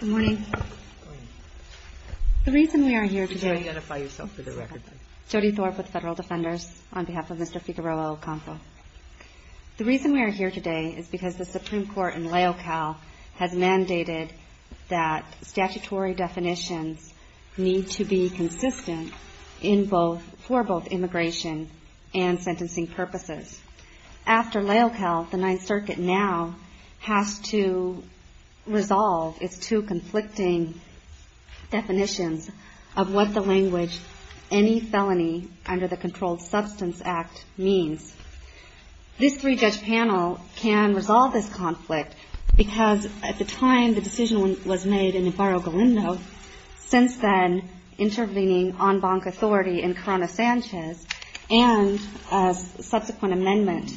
Good morning. Good morning. The reason we are here today... Could you identify yourself for the record, please? Jody Thorpe with Federal Defenders, on behalf of Mr. Figueroa-Ocampo. The reason we are here today is because the Supreme Court in Laocale has mandated that statutory definitions need to be consistent for both immigration and sentencing purposes. After Laocale, the Ninth Circuit now has to resolve its two conflicting definitions of what the language any felony under the Controlled Substance Act means. This three-judge panel can resolve this conflict because at the time the decision was made in Ibarra-Galindo, since then intervening en banc authority in Corona-Sanchez and a subsequent amendment,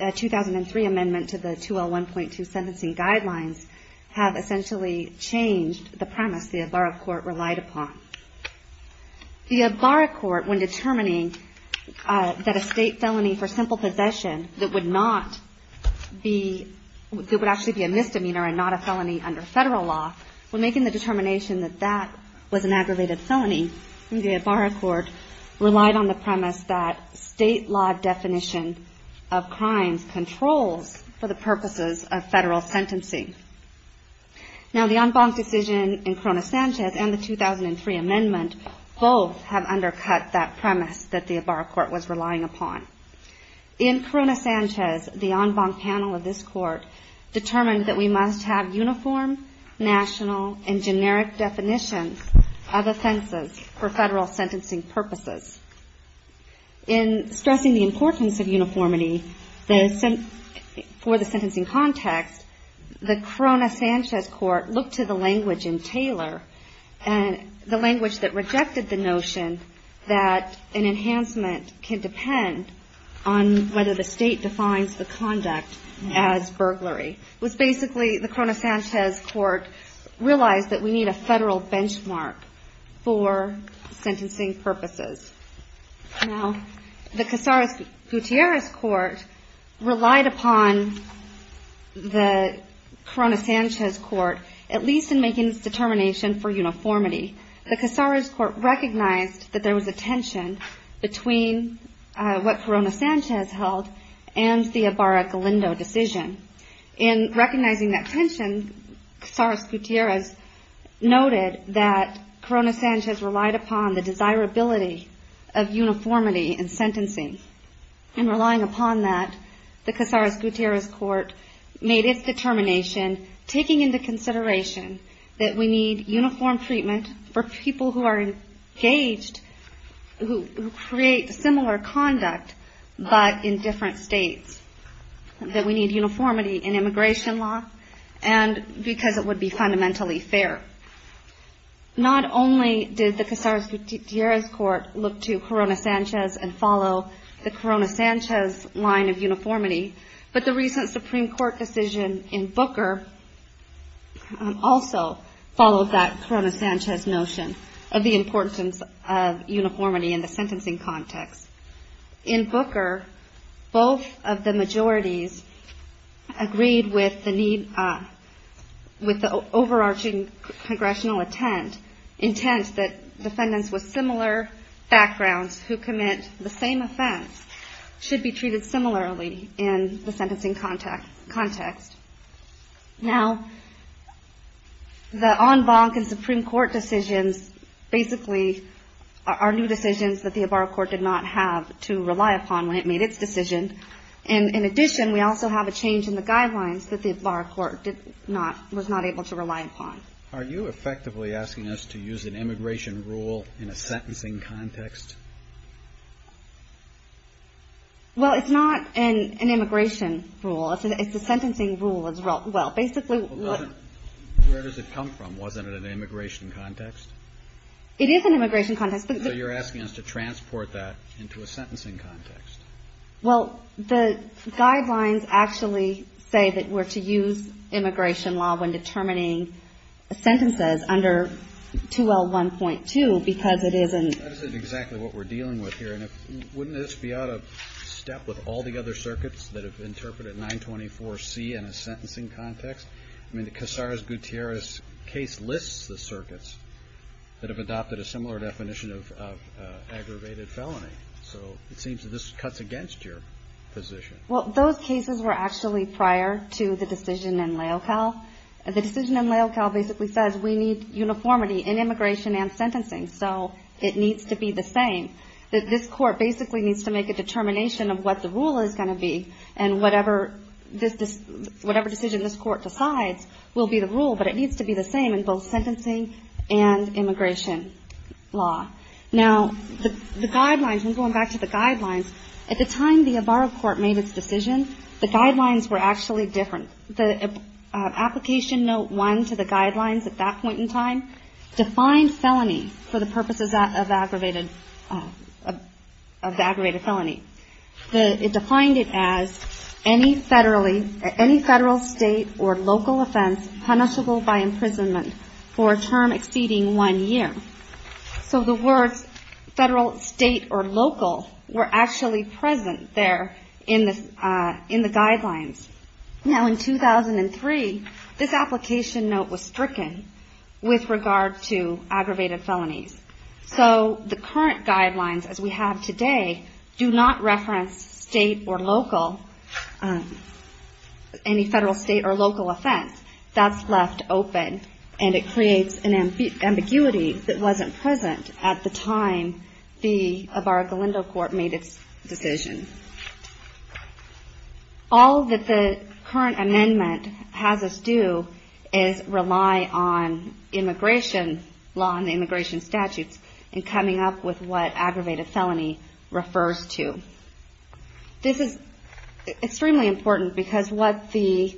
a 2003 amendment to the 2L1.2 sentencing guidelines have essentially changed the premise the Ibarra court relied upon. The Ibarra court, when determining that a state felony for simple possession that would not be, that would actually be a misdemeanor and not a felony under Federal law, when making the determination that that was an aggravated felony, the Ibarra court relied on the premise that state law definition of crimes controls for the purposes of Federal sentencing. Now the en banc decision in Corona-Sanchez and the 2003 amendment both have undercut that premise that the Ibarra court was relying upon. In Corona-Sanchez, the en banc panel of this court determined that we must have uniform, national, and generic definitions of offenses for Federal sentencing purposes. In stressing the importance of uniformity for the sentencing context, the Corona-Sanchez court looked to the language in Taylor and the language that rejected the notion that an enhancement can depend on whether the state defines the conduct as burglary. It was basically the Corona-Sanchez court realized that we need a Federal benchmark for sentencing purposes. Now the Casares-Gutierrez court relied upon the Corona-Sanchez court, at least in making its determination for uniformity. The Casares court recognized that there was a tension between what Corona-Sanchez held and the Ibarra-Galindo decision. In recognizing that tension, Casares-Gutierrez noted that Corona-Sanchez relied upon the desirability of uniformity in sentencing. In relying upon that, the Casares-Gutierrez court made its determination, taking into consideration that we need uniform treatment for people who are engaged, who create similar conduct, but in different states. That we need uniformity in immigration law and because it would be fundamentally fair. Not only did the Casares-Gutierrez court look to Corona-Sanchez and follow the Corona-Sanchez line of uniformity, but the recent Supreme Court decision in Booker also followed that Corona-Sanchez notion of the importance of uniformity in the sentencing context. In Booker, both of the majorities agreed with the overarching congressional intent that defendants with similar backgrounds who commit the same offense should be treated similarly in the sentencing context. Now, the en banc and Supreme Court decisions basically are new decisions that the Ebarra court did not have to rely upon when it made its decision. And in addition, we also have a change in the guidelines that the Ebarra court did not, was not able to rely upon. Are you effectively asking us to use an immigration rule in a sentencing context? Well, it's not an immigration rule. It's a sentencing rule as well. Well, basically what Where does it come from? Wasn't it an immigration context? It is an immigration context. So you're asking us to transport that into a sentencing context. Well, the guidelines actually say that we're to use immigration law when determining sentences under 2L1.2 because it isn't. That isn't exactly what we're dealing with here. And wouldn't this be out of step with all the other circuits that have interpreted 924C in a sentencing context? I mean, the Casares-Gutierrez case lists the circuits that have adopted a similar definition of aggravated felony. So it seems that this cuts against your position. Well, those cases were actually prior to the decision in Laelcal. The decision in Laelcal basically says we need uniformity in immigration and sentencing. So it needs to be the same. This court basically needs to make a determination of what the rule is going to be and whatever decision this court decides will be the rule, but it needs to be the same in both sentencing and immigration law. Now, the guidelines, going back to the guidelines, at the time the Avaro court made its decision, the guidelines were actually different. The application note one to the guidelines at that point in time defined felony for the purposes of aggravated felony. It defined it as any federal, state, or local offense punishable by imprisonment for a term exceeding one year. So the words federal, state, or local were actually present there in the guidelines. Now, in 2003, this application note was stricken with regard to aggravated felonies. So the current guidelines, as we have today, do not reference state or local, any federal, state, or local offense. That's left open, and it creates an ambiguity that wasn't present at the time the Avaro-Galindo court made its decision. All that the current amendment has us do is rely on immigration law and the immigration statutes in coming up with what aggravated felony refers to. This is extremely important because that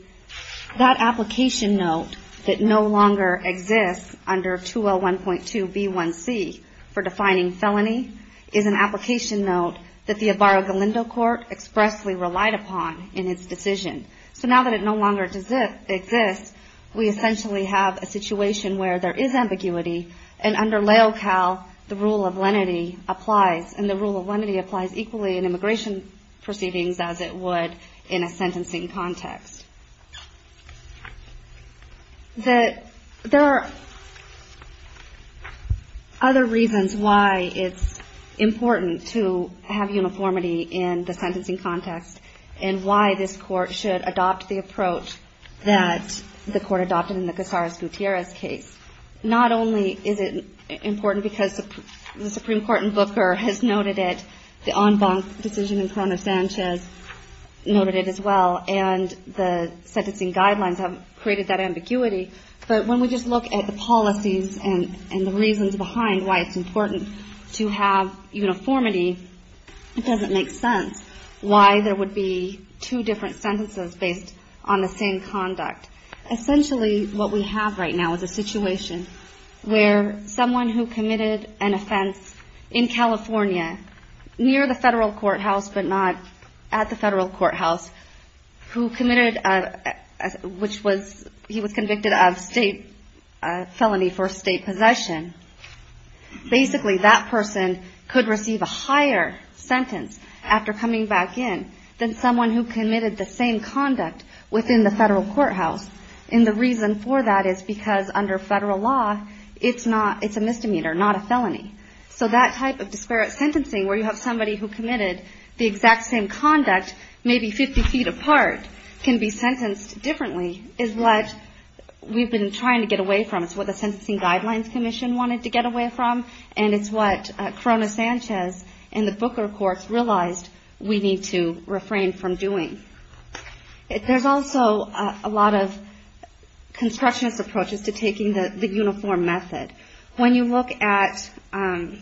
application note that no longer exists under 2L1.2B1C for defining felony is an application note that the Avaro-Galindo court expressly relied upon in its decision. So now that it no longer exists, we essentially have a situation where there is ambiguity, and under LAOCAL, the rule of lenity applies, and the rule of lenity applies equally in immigration proceedings as it would in a sentencing context. There are other reasons why it's important to have uniformity in the sentencing context and why this court should adopt the approach that the court adopted in the Cazares-Gutierrez case. Not only is it important because the Supreme Court in Booker has noted it, the en banc decision in Corona-Sanchez noted it as well, and the sentencing guidelines have created that ambiguity, but when we just look at the policies and the reasons behind why it's important to have uniformity, it doesn't make sense why there would be two different sentences based on the same conduct. Essentially what we have right now is a situation where someone who committed an offense in California near the federal courthouse but not at the federal courthouse who committed, which was, he was convicted of state felony for state possession. Basically that person could receive a higher sentence after coming back in than someone who committed the same conduct within the federal courthouse, and the reason for that is because under federal law it's a misdemeanor, not a felony. So that type of disparate sentencing where you have somebody who committed the exact same conduct maybe 50 feet apart can be sentenced differently is what we've been trying to get away from. It's what the Sentencing Guidelines Commission wanted to get away from, and it's what Corona-Sanchez and the Booker courts realized we need to refrain from doing. There's also a lot of constructionist approaches to taking the uniform method. When you look at Brown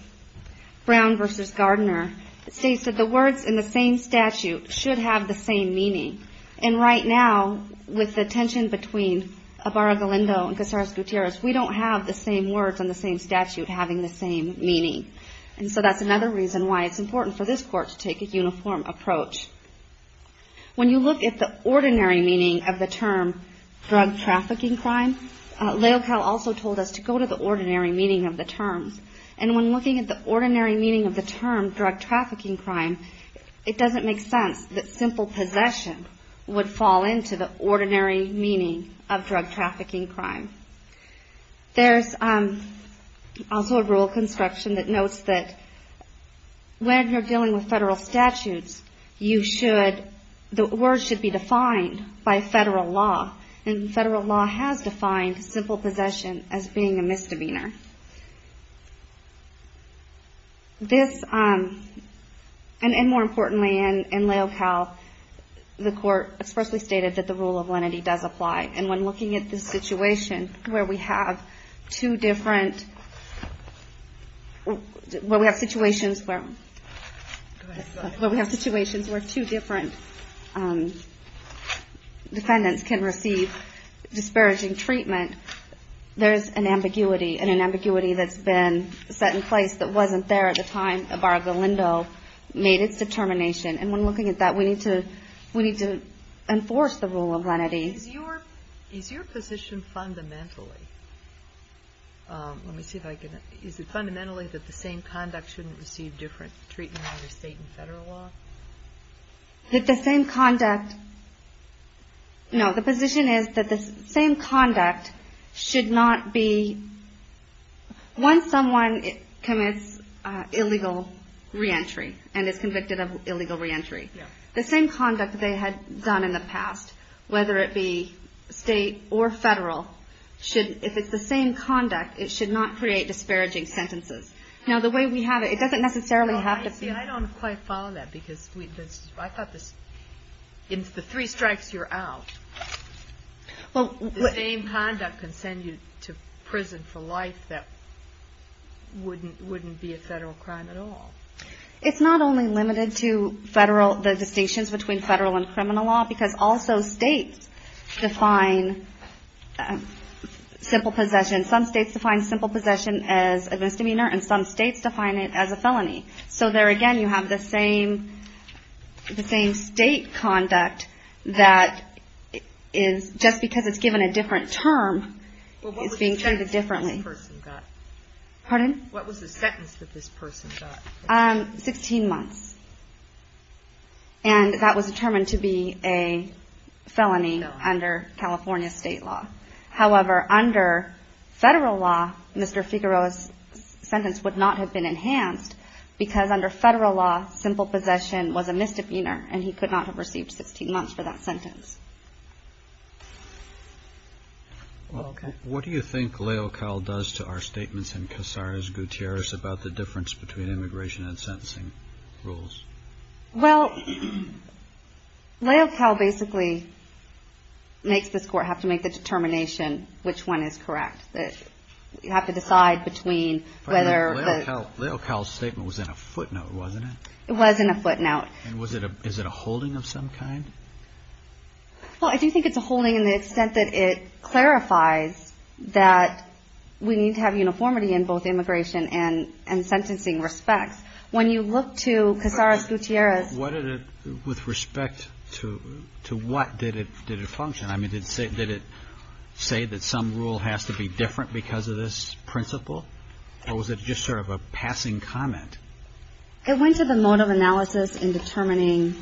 v. Gardner, it states that the words in the same statute should have the same meaning, and right now with the tension between Abarra-Galindo and Casares-Gutierrez, we don't have the same words on the same statute having the same meaning. And so that's another reason why it's important for this court to take a uniform approach. When you look at the ordinary meaning of the term drug-trafficking crime, Leocal also told us to go to the ordinary meaning of the term. And when looking at the ordinary meaning of the term drug-trafficking crime, it doesn't make sense that simple possession would fall into the ordinary meaning of drug-trafficking crime. There's also a rule of construction that notes that when you're dealing with federal statutes, the words should be defined by federal law, and federal law has defined simple possession as being a misdemeanor. And more importantly, in Leocal, the court expressly stated that the rule of lenity does apply. And when looking at the situation where we have two different, where we have situations where two different defendants can receive disparaging treatment, there's an ambiguity, and an ambiguity that's been set in place that wasn't there at the time Abarra-Galindo made its determination. And when looking at that, we need to enforce the rule of lenity. Is your position fundamentally, let me see if I can, is it fundamentally that the same conduct shouldn't receive different treatment under state and federal law? That the same conduct, no, the position is that the same conduct should not be, once someone commits illegal reentry and is convicted of illegal reentry, the same conduct they had done in the past, whether it be state or federal, if it's the same conduct, it should not create disparaging sentences. Now the way we have it, it doesn't necessarily have to be. I don't quite follow that, because I thought the three strikes you're out, the same conduct can send you to prison for life that wouldn't be a federal crime at all. It's not only limited to the distinctions between federal and criminal law, because also states define simple possession. Some states define simple possession as a misdemeanor, and some states define it as a felony. So there again, you have the same state conduct that is, just because it's given a different term, is being treated differently. What was the sentence that this person got? 16 months. And that was determined to be a felony under California state law. However, under federal law, Mr. Figueroa's sentence would not have been enhanced, because under federal law, simple possession was a misdemeanor, and he could not have received 16 months for that sentence. Okay. What do you think Leocal does to our statements in Casares Gutierrez about the difference between immigration and sentencing rules? Well, Leocal basically makes this Court have to make the determination which one is correct. You have to decide between whether the… Leocal's statement was in a footnote, wasn't it? It was in a footnote. And is it a holding of some kind? Well, I do think it's a holding in the extent that it clarifies that we need to have uniformity in both immigration and sentencing respects. When you look to Casares Gutierrez… With respect to what, did it function? I mean, did it say that some rule has to be different because of this principle? Or was it just sort of a passing comment? It went to the mode of analysis in determining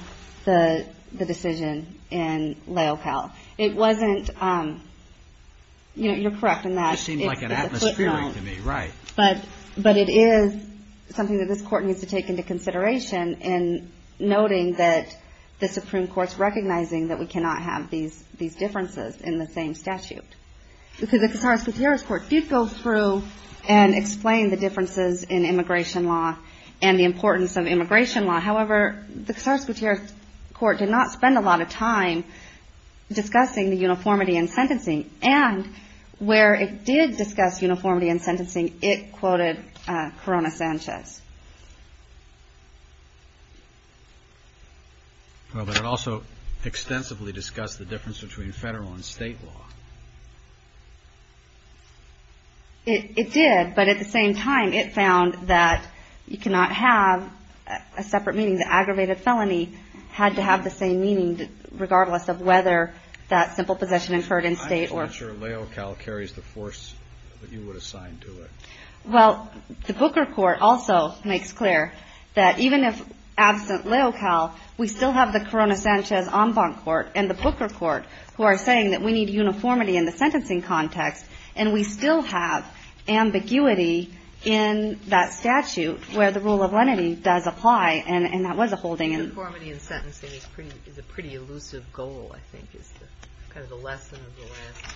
the decision in Leocal. It wasn't… You're correct in that it's a footnote. It seems like an atmospheric to me. Right. But it is something that this Court needs to take into consideration in noting that the Supreme Court's recognizing that we cannot have these differences in the same statute. Because the Casares Gutierrez Court did go through and explain the differences in immigration law and the importance of immigration law. However, the Casares Gutierrez Court did not spend a lot of time discussing the uniformity in sentencing. And where it did discuss uniformity in sentencing, it quoted Corona Sanchez. Well, but it also extensively discussed the difference between federal and state law. It did. But at the same time, it found that you cannot have a separate meaning. The aggravated felony had to have the same meaning regardless of whether that simple possession incurred in state or… I'm just not sure Leocal carries the force that you would assign to it. Well, the Booker Court also makes clear that even if absent Leocal, we still have the Corona Sanchez en banc court and the Booker court who are saying that we need uniformity in the sentencing context and we still have ambiguity in that statute where the rule of lenity does apply. And that was a holding. Uniformity in sentencing is a pretty elusive goal, I think, is kind of the lesson of the last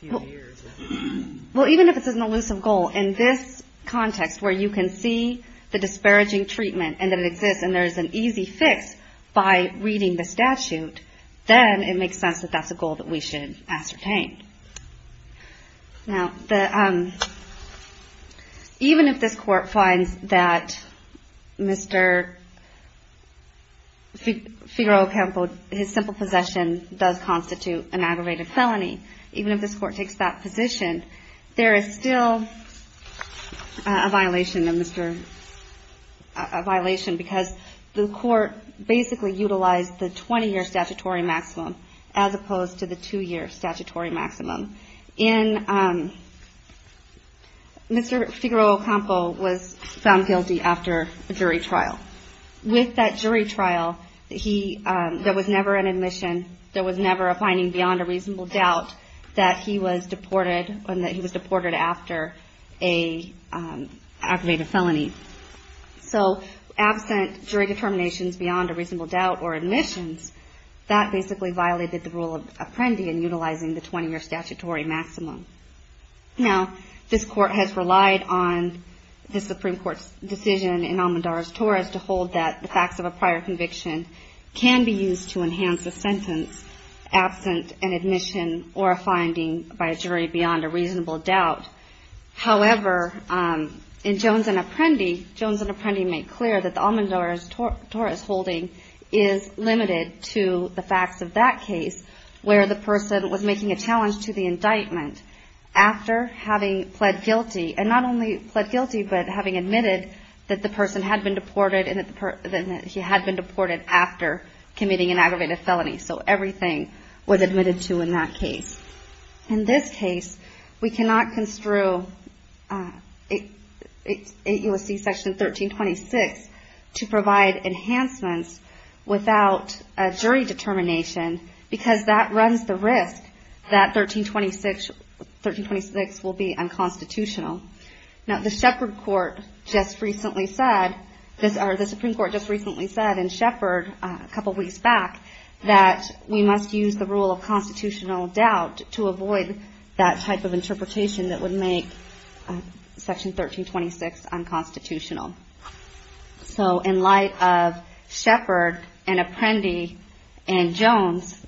few years. Well, even if it's an elusive goal, in this context where you can see the disparaging treatment and that it exists and there is an easy fix by reading the statute, then it makes sense that that's a goal that we should ascertain. Now, even if this court finds that Mr. Figueroa-Campo, his simple possession does constitute an aggravated felony, even if this court takes that position, there is still a violation of Mr.… because the court basically utilized the 20-year statutory maximum as opposed to the two-year statutory maximum. Mr. Figueroa-Campo was found guilty after a jury trial. With that jury trial, there was never an admission, there was never a finding beyond a reasonable doubt that he was deported and that he was deported after an aggravated felony. So absent jury determinations beyond a reasonable doubt or admissions, that basically violated the rule of Apprendi in utilizing the 20-year statutory maximum. Now, this court has relied on the Supreme Court's decision in Almodovar v. Torres to hold that the facts of a prior conviction can be used to enhance a sentence absent an admission or a finding by a jury beyond a reasonable doubt. However, in Jones v. Apprendi, Jones v. Apprendi made clear that the Almodovar v. Torres holding is limited to the facts of that case where the person was making a challenge to the indictment after having pled guilty, and not only pled guilty, but having admitted that the person had been deported and that he had been deported after committing an aggravated felony. So everything was admitted to in that case. In this case, we cannot construe 8 U.S.C. Section 1326 to provide enhancements without a jury determination because that runs the risk that 1326 will be unconstitutional. Now, the Supreme Court just recently said in Shepard a couple weeks back that we must use the rule of constitutional doubt to avoid that type of interpretation that would make Section 1326 unconstitutional. So in light of Shepard and Apprendi and Jones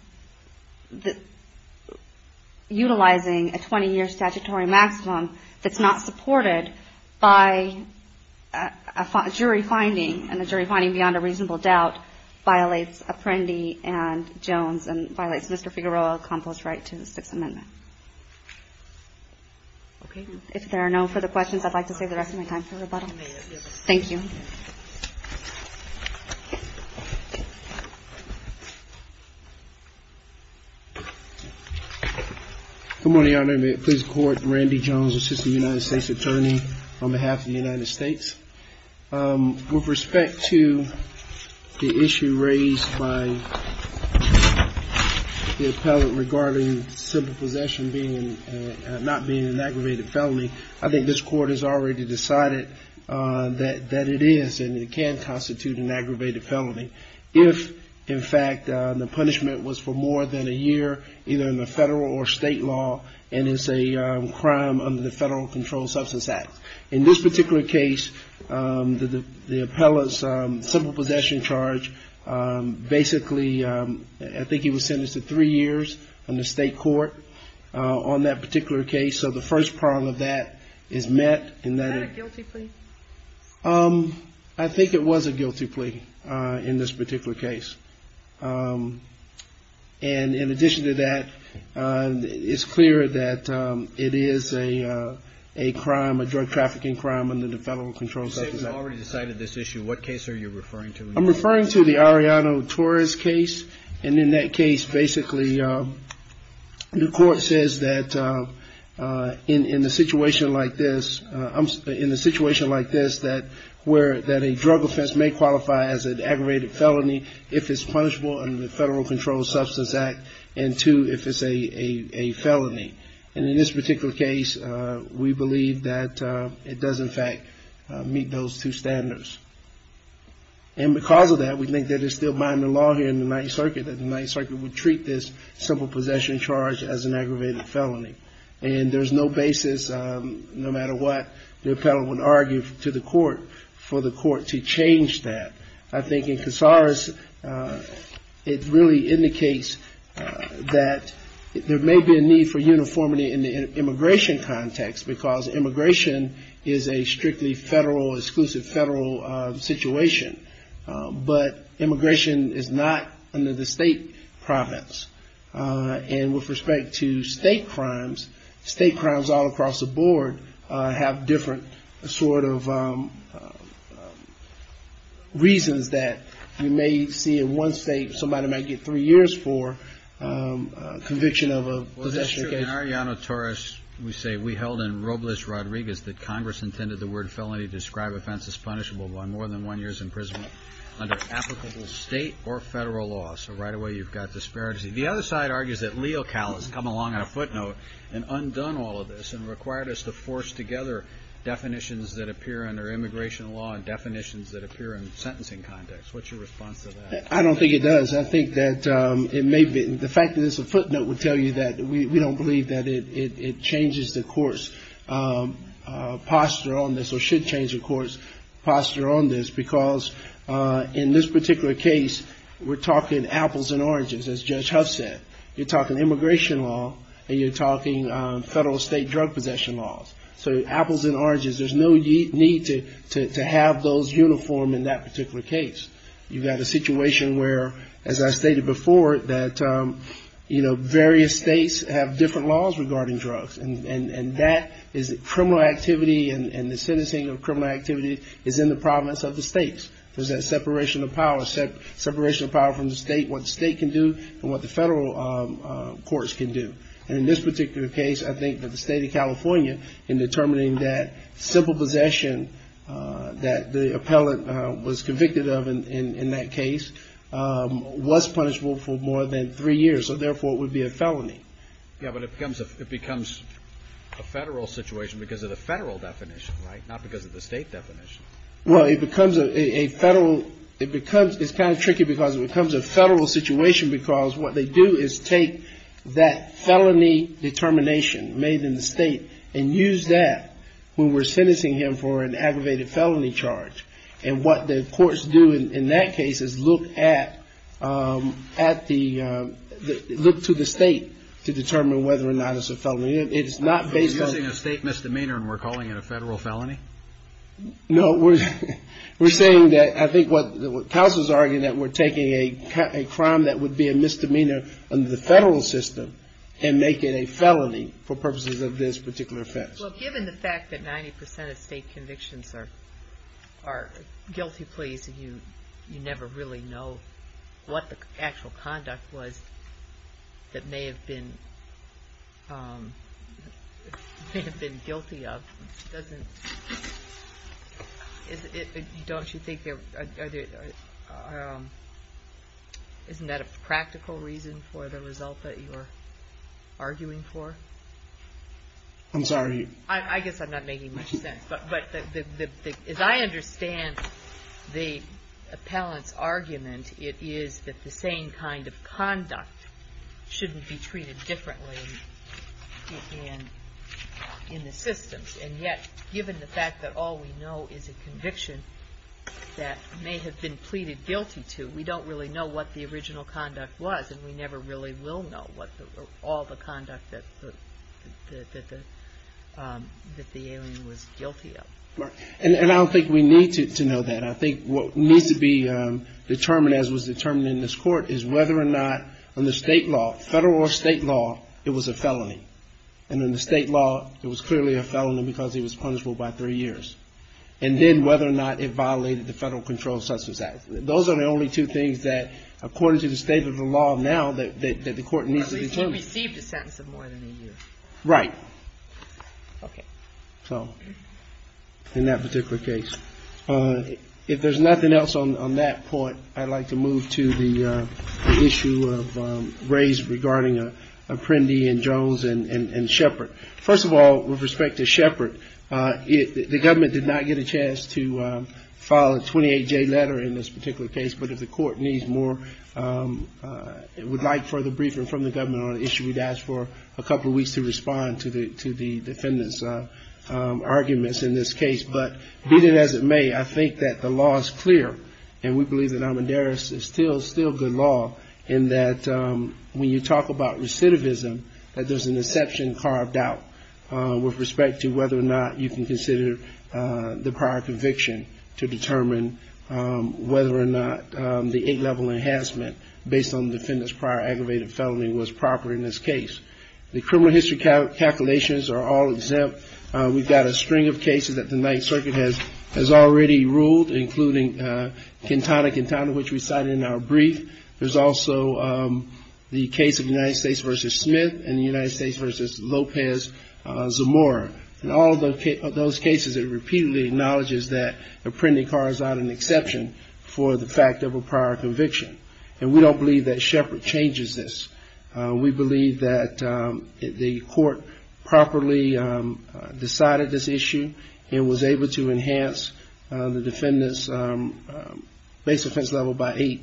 utilizing a 20-year statutory maximum that's not supported by a jury finding, and a jury finding beyond a reasonable doubt violates Apprendi and Jones and violates Mr. Figueroa's right to the Sixth Amendment. If there are no further questions, I'd like to save the rest of my time for rebuttal. Thank you. Good morning, Your Honor. Please record Randy Jones, Assistant United States Attorney, on behalf of the United States. With respect to the issue raised by the appellant regarding simple possession not being an aggravated felony, I think this Court has already decided that it is and it can constitute an aggravated felony. If, in fact, the punishment was for more than a year, either in the federal or state law, and it's a crime under the Federal Controlled Substance Act. In this particular case, the appellant's simple possession charge, basically, I think he was sentenced to three years in the state court on that particular case. So the first part of that is met. Is that a guilty plea? I think it was a guilty plea in this particular case. And in addition to that, it's clear that it is a crime, a drug trafficking crime under the Federal Controlled Substance Act. You say you've already decided this issue. What case are you referring to? I'm referring to the Arellano Torres case. And in that case, basically, the court says that in a situation like this that a drug offense may qualify as an aggravated felony if it's punishable under the Federal Controlled Substance Act and two, if it's a felony. And in this particular case, we believe that it does, in fact, meet those two standards. And because of that, we think that it's still binding law here in the Ninth Circuit that the Ninth Circuit would treat this simple possession charge as an aggravated felony. And there's no basis, no matter what, the appellant would argue to the court for the court to change that. I think in Casares, it really indicates that there may be a need for uniformity in the immigration context because immigration is a strictly federal, exclusive federal situation. But immigration is not under the state province. And with respect to state crimes, state crimes all across the board have different sort of reasons that you may see in one state, somebody might get three years for conviction of a possession charge. In Ariana Torres, we say we held in Robles Rodriguez that Congress intended the word felony to describe offense as punishable by more than one year's imprisonment under applicable state or federal law. So right away, you've got disparity. The other side argues that Leo Cal has come along on a footnote and undone all of this and required us to force together definitions that appear under immigration law and definitions that appear in the sentencing context. What's your response to that? I don't think it does. I think that it may be. The fact that it's a footnote would tell you that we don't believe that it changes the court's posture on this or should change the court's posture on this, because in this particular case, we're talking apples and oranges, as Judge Huff said. You're talking immigration law and you're talking federal state drug possession laws. So apples and oranges, there's no need to have those uniform in that particular case. You've got a situation where, as I stated before, that, you know, various states have different laws regarding drugs. And that is criminal activity and the sentencing of criminal activity is in the province of the states. There's that separation of power, separation of power from the state, what the state can do and what the federal courts can do. And in this particular case, I think that the state of California, in determining that civil possession that the appellant was convicted of in that case, was punishable for more than three years. So therefore, it would be a felony. Yeah, but it becomes a federal situation because of the federal definition, right, not because of the state definition. Well, it becomes a federal, it becomes, it's kind of tricky because it becomes a federal situation because what they do is take that felony determination made in the state and use that when we're sentencing him for an aggravated felony charge. And what the courts do in that case is look at the, look to the state to determine whether or not it's a felony. It's not based on... We're using a state misdemeanor and we're calling it a federal felony? No, we're saying that, I think what counsel's arguing that we're taking a crime that would be a misdemeanor under the federal system and make it a felony for purposes of this particular offense. So given the fact that 90% of state convictions are guilty pleas and you never really know what the actual conduct was that may have been guilty of, don't you think there, isn't that a practical reason for the result that you're arguing for? I'm sorry. I guess I'm not making much sense, but as I understand the appellant's argument, it is that the same kind of conduct shouldn't be treated differently in the systems. And yet, given the fact that all we know is a conviction that may have been pleaded guilty to, we don't really know what the original conduct was and we never really will know all the conduct that the alien was guilty of. And I don't think we need to know that. I think what needs to be determined, as was determined in this court, is whether or not under state law, federal or state law, it was a felony. And under state law, it was clearly a felony because he was punishable by three years. And then whether or not it violated the Federal Control Substance Act. Those are the only two things that, according to the state of the law now, that the court needs to determine. At least he received a sentence of more than a year. Right. In that particular case. If there's nothing else on that point, I'd like to move to the issue raised regarding Apprendi and Jones and Shepard. First of all, with respect to Shepard, the government did not get a chance to file a 28-J letter in this particular case. But if the court needs more, would like further briefing from the government on the issue, we'd ask for a couple of weeks to respond to the defendant's arguments in this case. But be that as it may, I think that the law is clear, and we believe that Amadeus is still good law, in that when you talk about recidivism, that there's an exception carved out, with respect to whether or not you can consider the prior conviction to determine whether or not the eight-level enhancement based on the defendant's prior aggravated felony was proper in this case. The criminal history calculations are all exempt. We've got a string of cases that the Ninth Circuit has already ruled, including Quintana Quintana, which we cited in our brief. There's also the case of United States v. Smith and the United States v. Lopez, Zamora. In all of those cases, it repeatedly acknowledges that a printed card is not an exception for the fact of a prior conviction. And we don't believe that Shepard changes this. We believe that the court properly decided this issue and was able to enhance the defendant's base offense level by eight,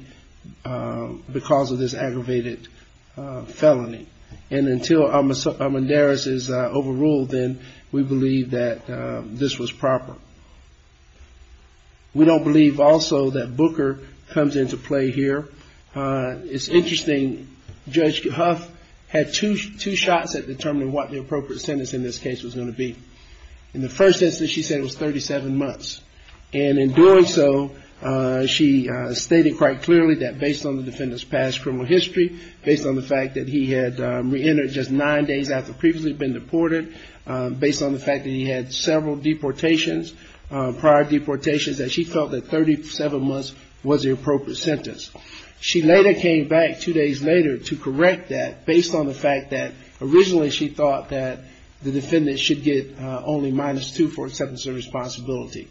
because of this aggravated felony. And until Amadeus is overruled, then we believe that this was proper. We don't believe also that Booker comes into play here. It's interesting, Judge Huff had two shots at determining what the appropriate sentence in this case was going to be. In the first instance, she said it was 37 months. And in doing so, she stated quite clearly that based on the defendant's past criminal history, based on the fact that he had reentered just nine days after previously being deported, based on the fact that he had several deportations, prior deportations, that she felt that 37 months was the appropriate sentence. She later came back two days later to correct that based on the fact that originally she thought that the defendant should get only minus two for acceptance of responsibility.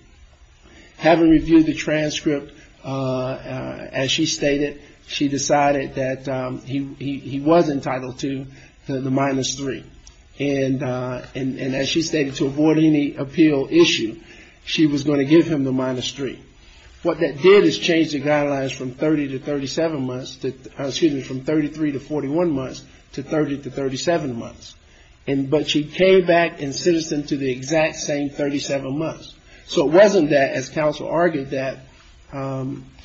Having reviewed the transcript, as she stated, she decided that he was entitled to the minus three. And as she stated, to avoid any appeal issue, she was going to give him the minus three. What that did is change the guidelines from 33 to 41 months to 30 to 37 months. But she came back and sentenced him to the exact same 37 months. So it wasn't that, as counsel argued, that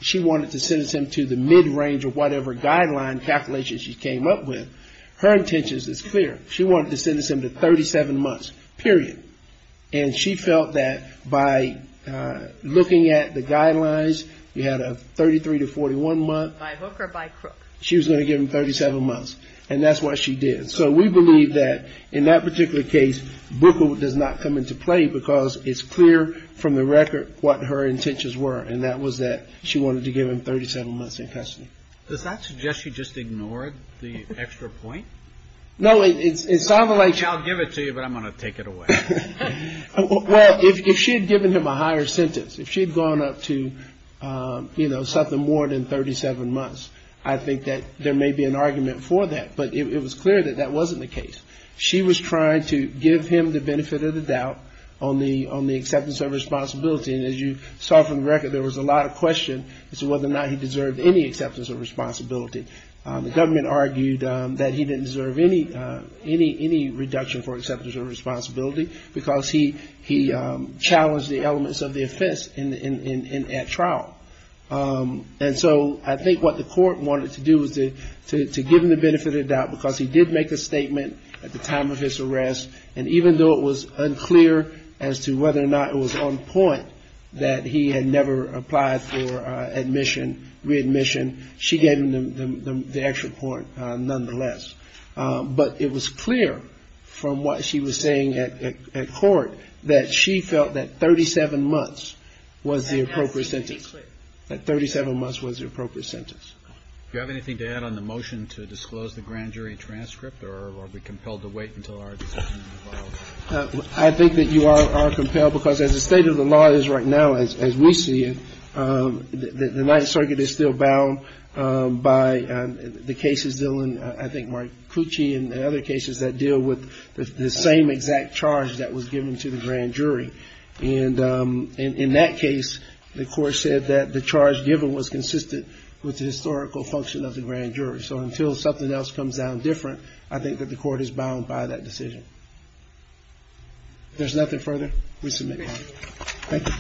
she wanted to sentence him to the mid-range or whatever guideline calculation she came up with. Her intention is clear. She wanted to sentence him to 37 months, period. And she felt that by looking at the guidelines, you had a 33 to 41 month. She was going to give him 37 months. And that's what she did. So we believe that in that particular case, Bruckle does not come into play, because it's clear from the record what her intentions were, and that was that she wanted to give him 37 months in custody. Does that suggest she just ignored the extra point? No, it sounded like she said, I'll give it to you, but I'm going to take it away. Well, if she had given him a higher sentence, if she had gone up to something more than 37 months, I think that there may be an argument for that. But it was clear that that wasn't the case. She was trying to give him the benefit of the doubt on the acceptance of responsibility. And as you saw from the record, there was a lot of question as to whether or not he deserved any acceptance of responsibility. The government argued that he didn't deserve any reduction for acceptance of responsibility, because he challenged the elements of the offense at trial. And so I think what the court wanted to do was to give him the benefit of the doubt, because he did make a statement at the time of his arrest. And even though it was unclear as to whether or not it was on point that he had never applied for admission, readmission, she gave him the extra point nonetheless. But it was clear from what she was saying at court that she felt that 37 months was the appropriate sentence. Do you have anything to add on the motion to disclose the grand jury transcript, or are we compelled to wait until our decision is involved? I think that you are compelled, because as the state of the law is right now, as we see it, the Ninth Circuit is still bound by the cases dealing, I think, Mark Cucci and other cases that deal with the same exact charge that was given to the grand jury. And in that case, the court said that the charge given was consistent with the historical function of the grand jury. So until something else comes down different, I think that the court is bound by that decision. If there's nothing further, we submit. Thank you.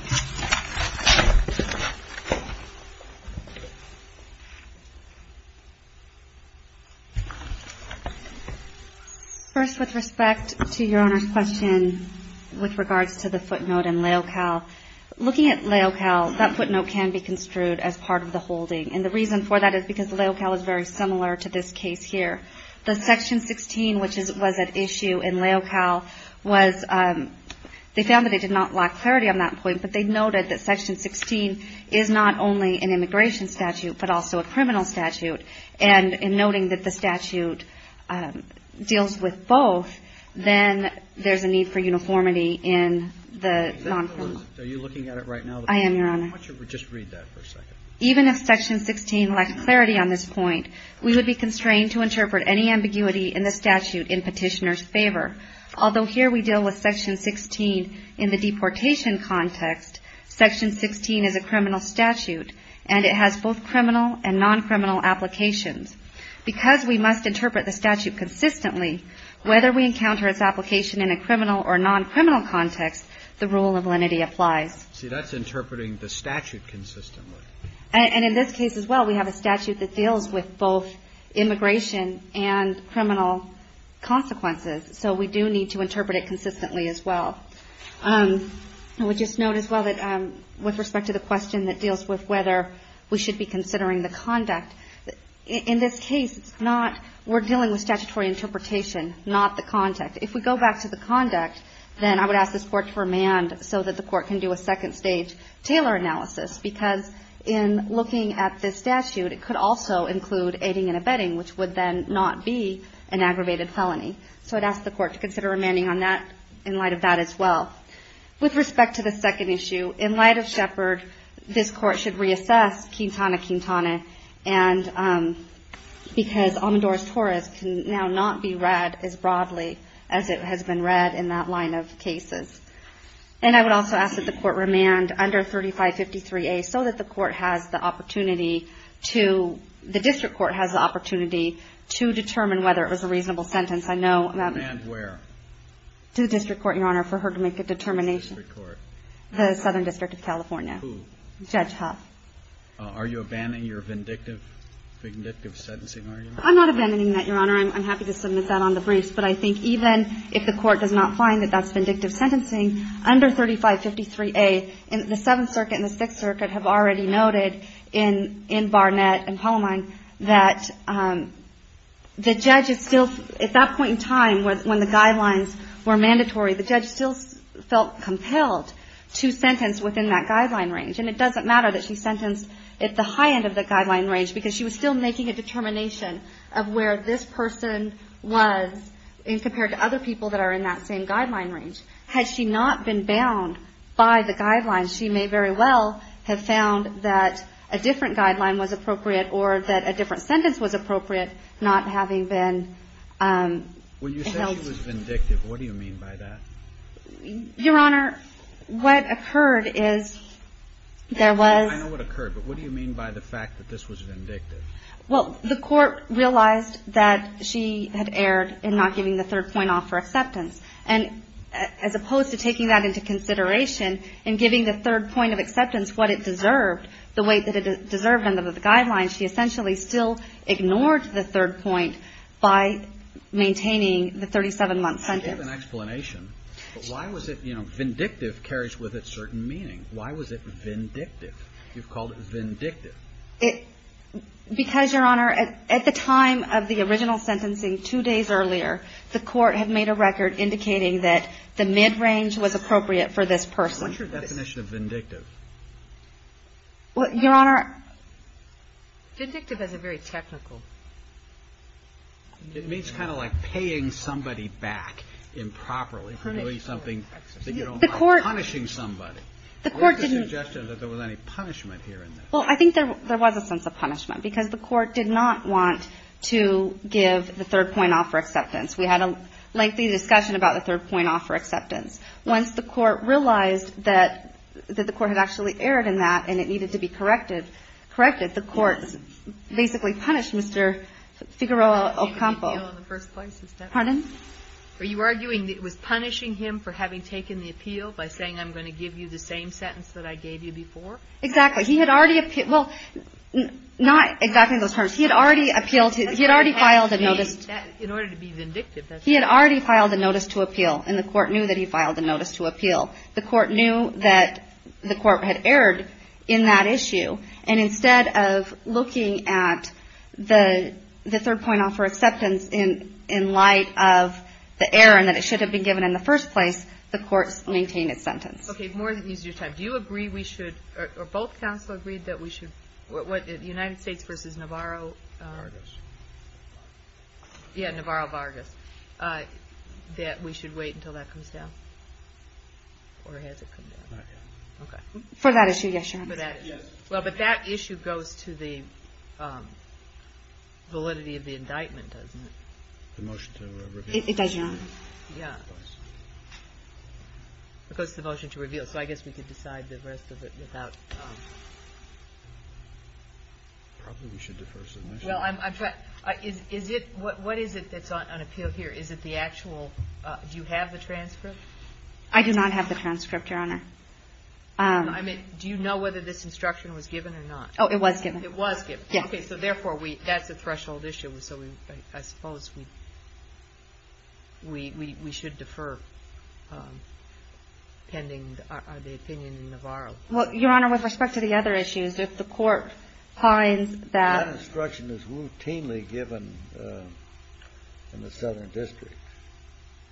First, with respect to your Honor's question with regards to the footnote in Leocal, looking at Leocal, that footnote can be construed as part of the holding. And the reason for that is because Leocal is very similar to this case here. The Section 16, which was at issue in Leocal, was they found that they did not lack clarity on that point, but they noted that Section 16 is not only an immigration statute, but also a criminal statute. And in noting that the statute deals with both, then there's a need for uniformity in the noncriminal. Are you looking at it right now? I am, Your Honor. Just read that for a second. Even if Section 16 lacked clarity on this point, we would be constrained to interpret any ambiguity in the statute in Petitioner's favor. Although here we deal with Section 16 in the deportation context, Section 16 is a criminal statute, and it has both criminal and noncriminal applications. Because we must interpret the statute consistently, whether we encounter its application in a criminal or noncriminal context, the rule of lenity applies. See, that's interpreting the statute consistently. And in this case as well, we have a statute that deals with both immigration and criminal consequences, so we do need to interpret it consistently as well. I would just note as well that with respect to the question that deals with whether we should be considering the conduct, in this case it's not we're dealing with statutory interpretation, not the conduct. If we go back to the conduct, then I would ask this Court to remand so that the Court can do a second-stage Taylor analysis, because in looking at this statute, it could also include aiding and abetting, which would then not be an aggravated felony. So I'd ask the Court to consider remanding on that in light of that as well. With respect to the second issue, in light of Shepard, this Court should reassess Quintana-Quintana, because Almedora's Torres can now not be read as broadly as it has been read in that line of cases. And I would also ask that the Court remand under 3553A so that the District Court has the opportunity to determine whether it was a reasonable sentence. I know that the District Court, Your Honor, for her to make a determination. The Southern District of California. Who? Judge Huff. Are you abandoning your vindictive sentencing argument? I'm not abandoning that, Your Honor. I'm happy to submit that on the briefs. But I think even if the Court does not find that that's vindictive sentencing, under 3553A, and the Seventh Circuit and the Sixth Circuit have already noted in Barnett and Palomine that the judge is still, at that point in time when the guidelines were mandatory, the judge still felt compelled to sentence within that guideline range. And it doesn't matter that she sentenced at the high end of the guideline range, because she was still making a determination of where this person was compared to other people that are in that same guideline range. Had she not been bound by the guidelines, she may very well have found that a different guideline was appropriate or that a different sentence was appropriate, not having been held. When you say she was vindictive, what do you mean by that? Your Honor, what occurred is there was. I know what occurred, but what do you mean by the fact that this was vindictive? Well, the Court realized that she had erred in not giving the third point off for acceptance. And as opposed to taking that into consideration and giving the third point of acceptance what it deserved, the way that it deserved under the guidelines, she essentially still ignored the third point by maintaining the 37-month sentence. I gave an explanation. But why was it, you know, vindictive carries with it certain meaning. Why was it vindictive? You've called it vindictive. Because, Your Honor, at the time of the original sentencing, two days earlier, the Court had made a record indicating that the mid-range was appropriate for this person. What's your definition of vindictive? Well, Your Honor. Vindictive is a very technical. It means kind of like paying somebody back improperly for doing something that you don't want. Punishing somebody. The Court didn't. What was the suggestion that there was any punishment here in this? Well, I think there was a sense of punishment because the Court did not want to give the third point off for acceptance. We had a lengthy discussion about the third point off for acceptance. Once the Court realized that the Court had actually erred in that and it needed to be corrected, the Court basically punished Mr. Figueroa Ocampo. Are you arguing it was punishing him for having taken the appeal by saying, I'm going to give you the same sentence that I gave you before? Exactly. He had already appealed. Well, not exactly those terms. He had already appealed. He had already filed a notice. In order to be vindictive. He had already filed a notice to appeal. And the Court knew that he filed a notice to appeal. The Court knew that the Court had erred in that issue. And instead of looking at the third point off for acceptance in light of the error and that it should have been given in the first place, the Court maintained its sentence. Okay. I'm going to take more of your time. Do you agree we should, or both counsel agreed that we should, the United States v. Navarro. Vargas. Yeah, Navarro-Vargas, that we should wait until that comes down? Or has it come down? Not yet. Okay. For that issue, yes, Your Honor. Well, but that issue goes to the validity of the indictment, doesn't it? The motion to reveal. It does, Your Honor. Yeah. Of course. It goes to the motion to reveal. So I guess we could decide the rest of it without. Probably we should defer submission. Well, I'm trying. Is it, what is it that's on appeal here? Is it the actual, do you have the transcript? I do not have the transcript, Your Honor. I mean, do you know whether this instruction was given or not? Oh, it was given. It was given. Okay. So therefore, that's a threshold issue. So I suppose we should defer pending the opinion in Navarro. Well, Your Honor, with respect to the other issues, if the court finds that. That instruction is routinely given in the Southern District.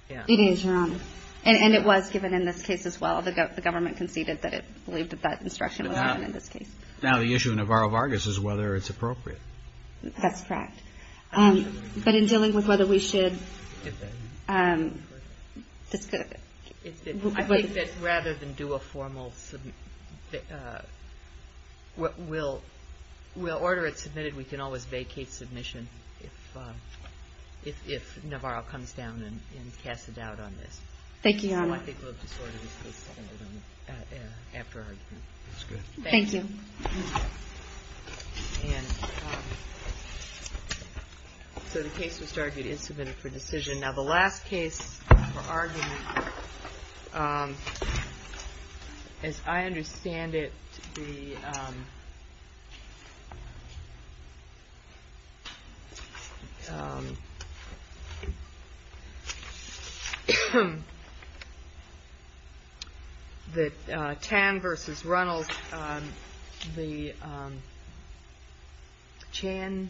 It is, Your Honor. And it was given in this case as well. The government conceded that it believed that that instruction was given in this case. Now the issue of Navarro-Vargas is whether it's appropriate. That's correct. But in dealing with whether we should defer. I think that rather than do a formal, we'll order it submitted. We can always vacate submission if Navarro comes down and casts a doubt on this. Thank you, Your Honor. So I think we'll just order this case deferred. That's good. Thank you. And so the case which was argued is submitted for decision. Now the last case for argument, as I understand it, is the Chan versus Reynolds. The Chan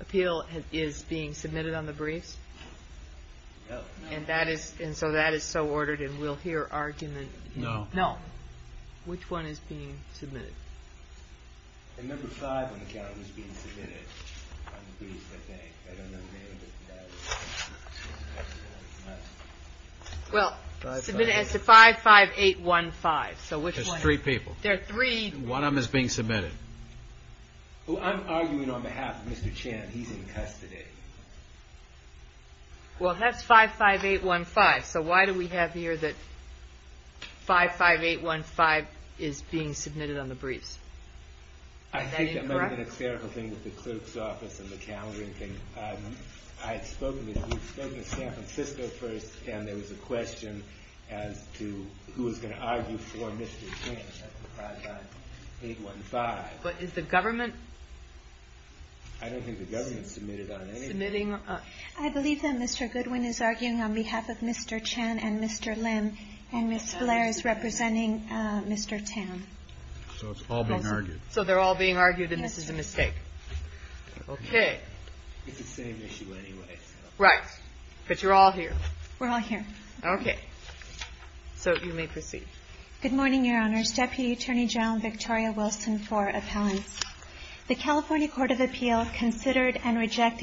appeal is being submitted on the briefs. And so that is so ordered and we'll hear argument. No. No. Which one is being submitted? The number five on the count is being submitted on the briefs, I think. I don't know the name of it. Submit it as to 55815. There's three people. There are three. One of them is being submitted. I'm arguing on behalf of Mr. Chan. He's in custody. Well, that's 55815. So why do we have here that 55815 is being submitted on the briefs? Is that incorrect? I think that might have been a clerical thing with the clerk's office and the calendaring thing. I had spoken to San Francisco first and there was a question as to who was going to argue for Mr. Chan. That's 55815. But is the government? I don't think the government submitted on anything. I believe that Mr. Goodwin is arguing on behalf of Mr. Chan and Mr. Lim and Ms. Blair is representing Mr. Tam. So it's all being argued. So they're all being argued and this is a mistake. Okay. It's the same issue anyway. Right. But you're all here. We're all here. Okay. So you may proceed. Good morning, Your Honors. Deputy Attorney General Victoria Wilson for appellants. The California Court of Appeals considered and rejected.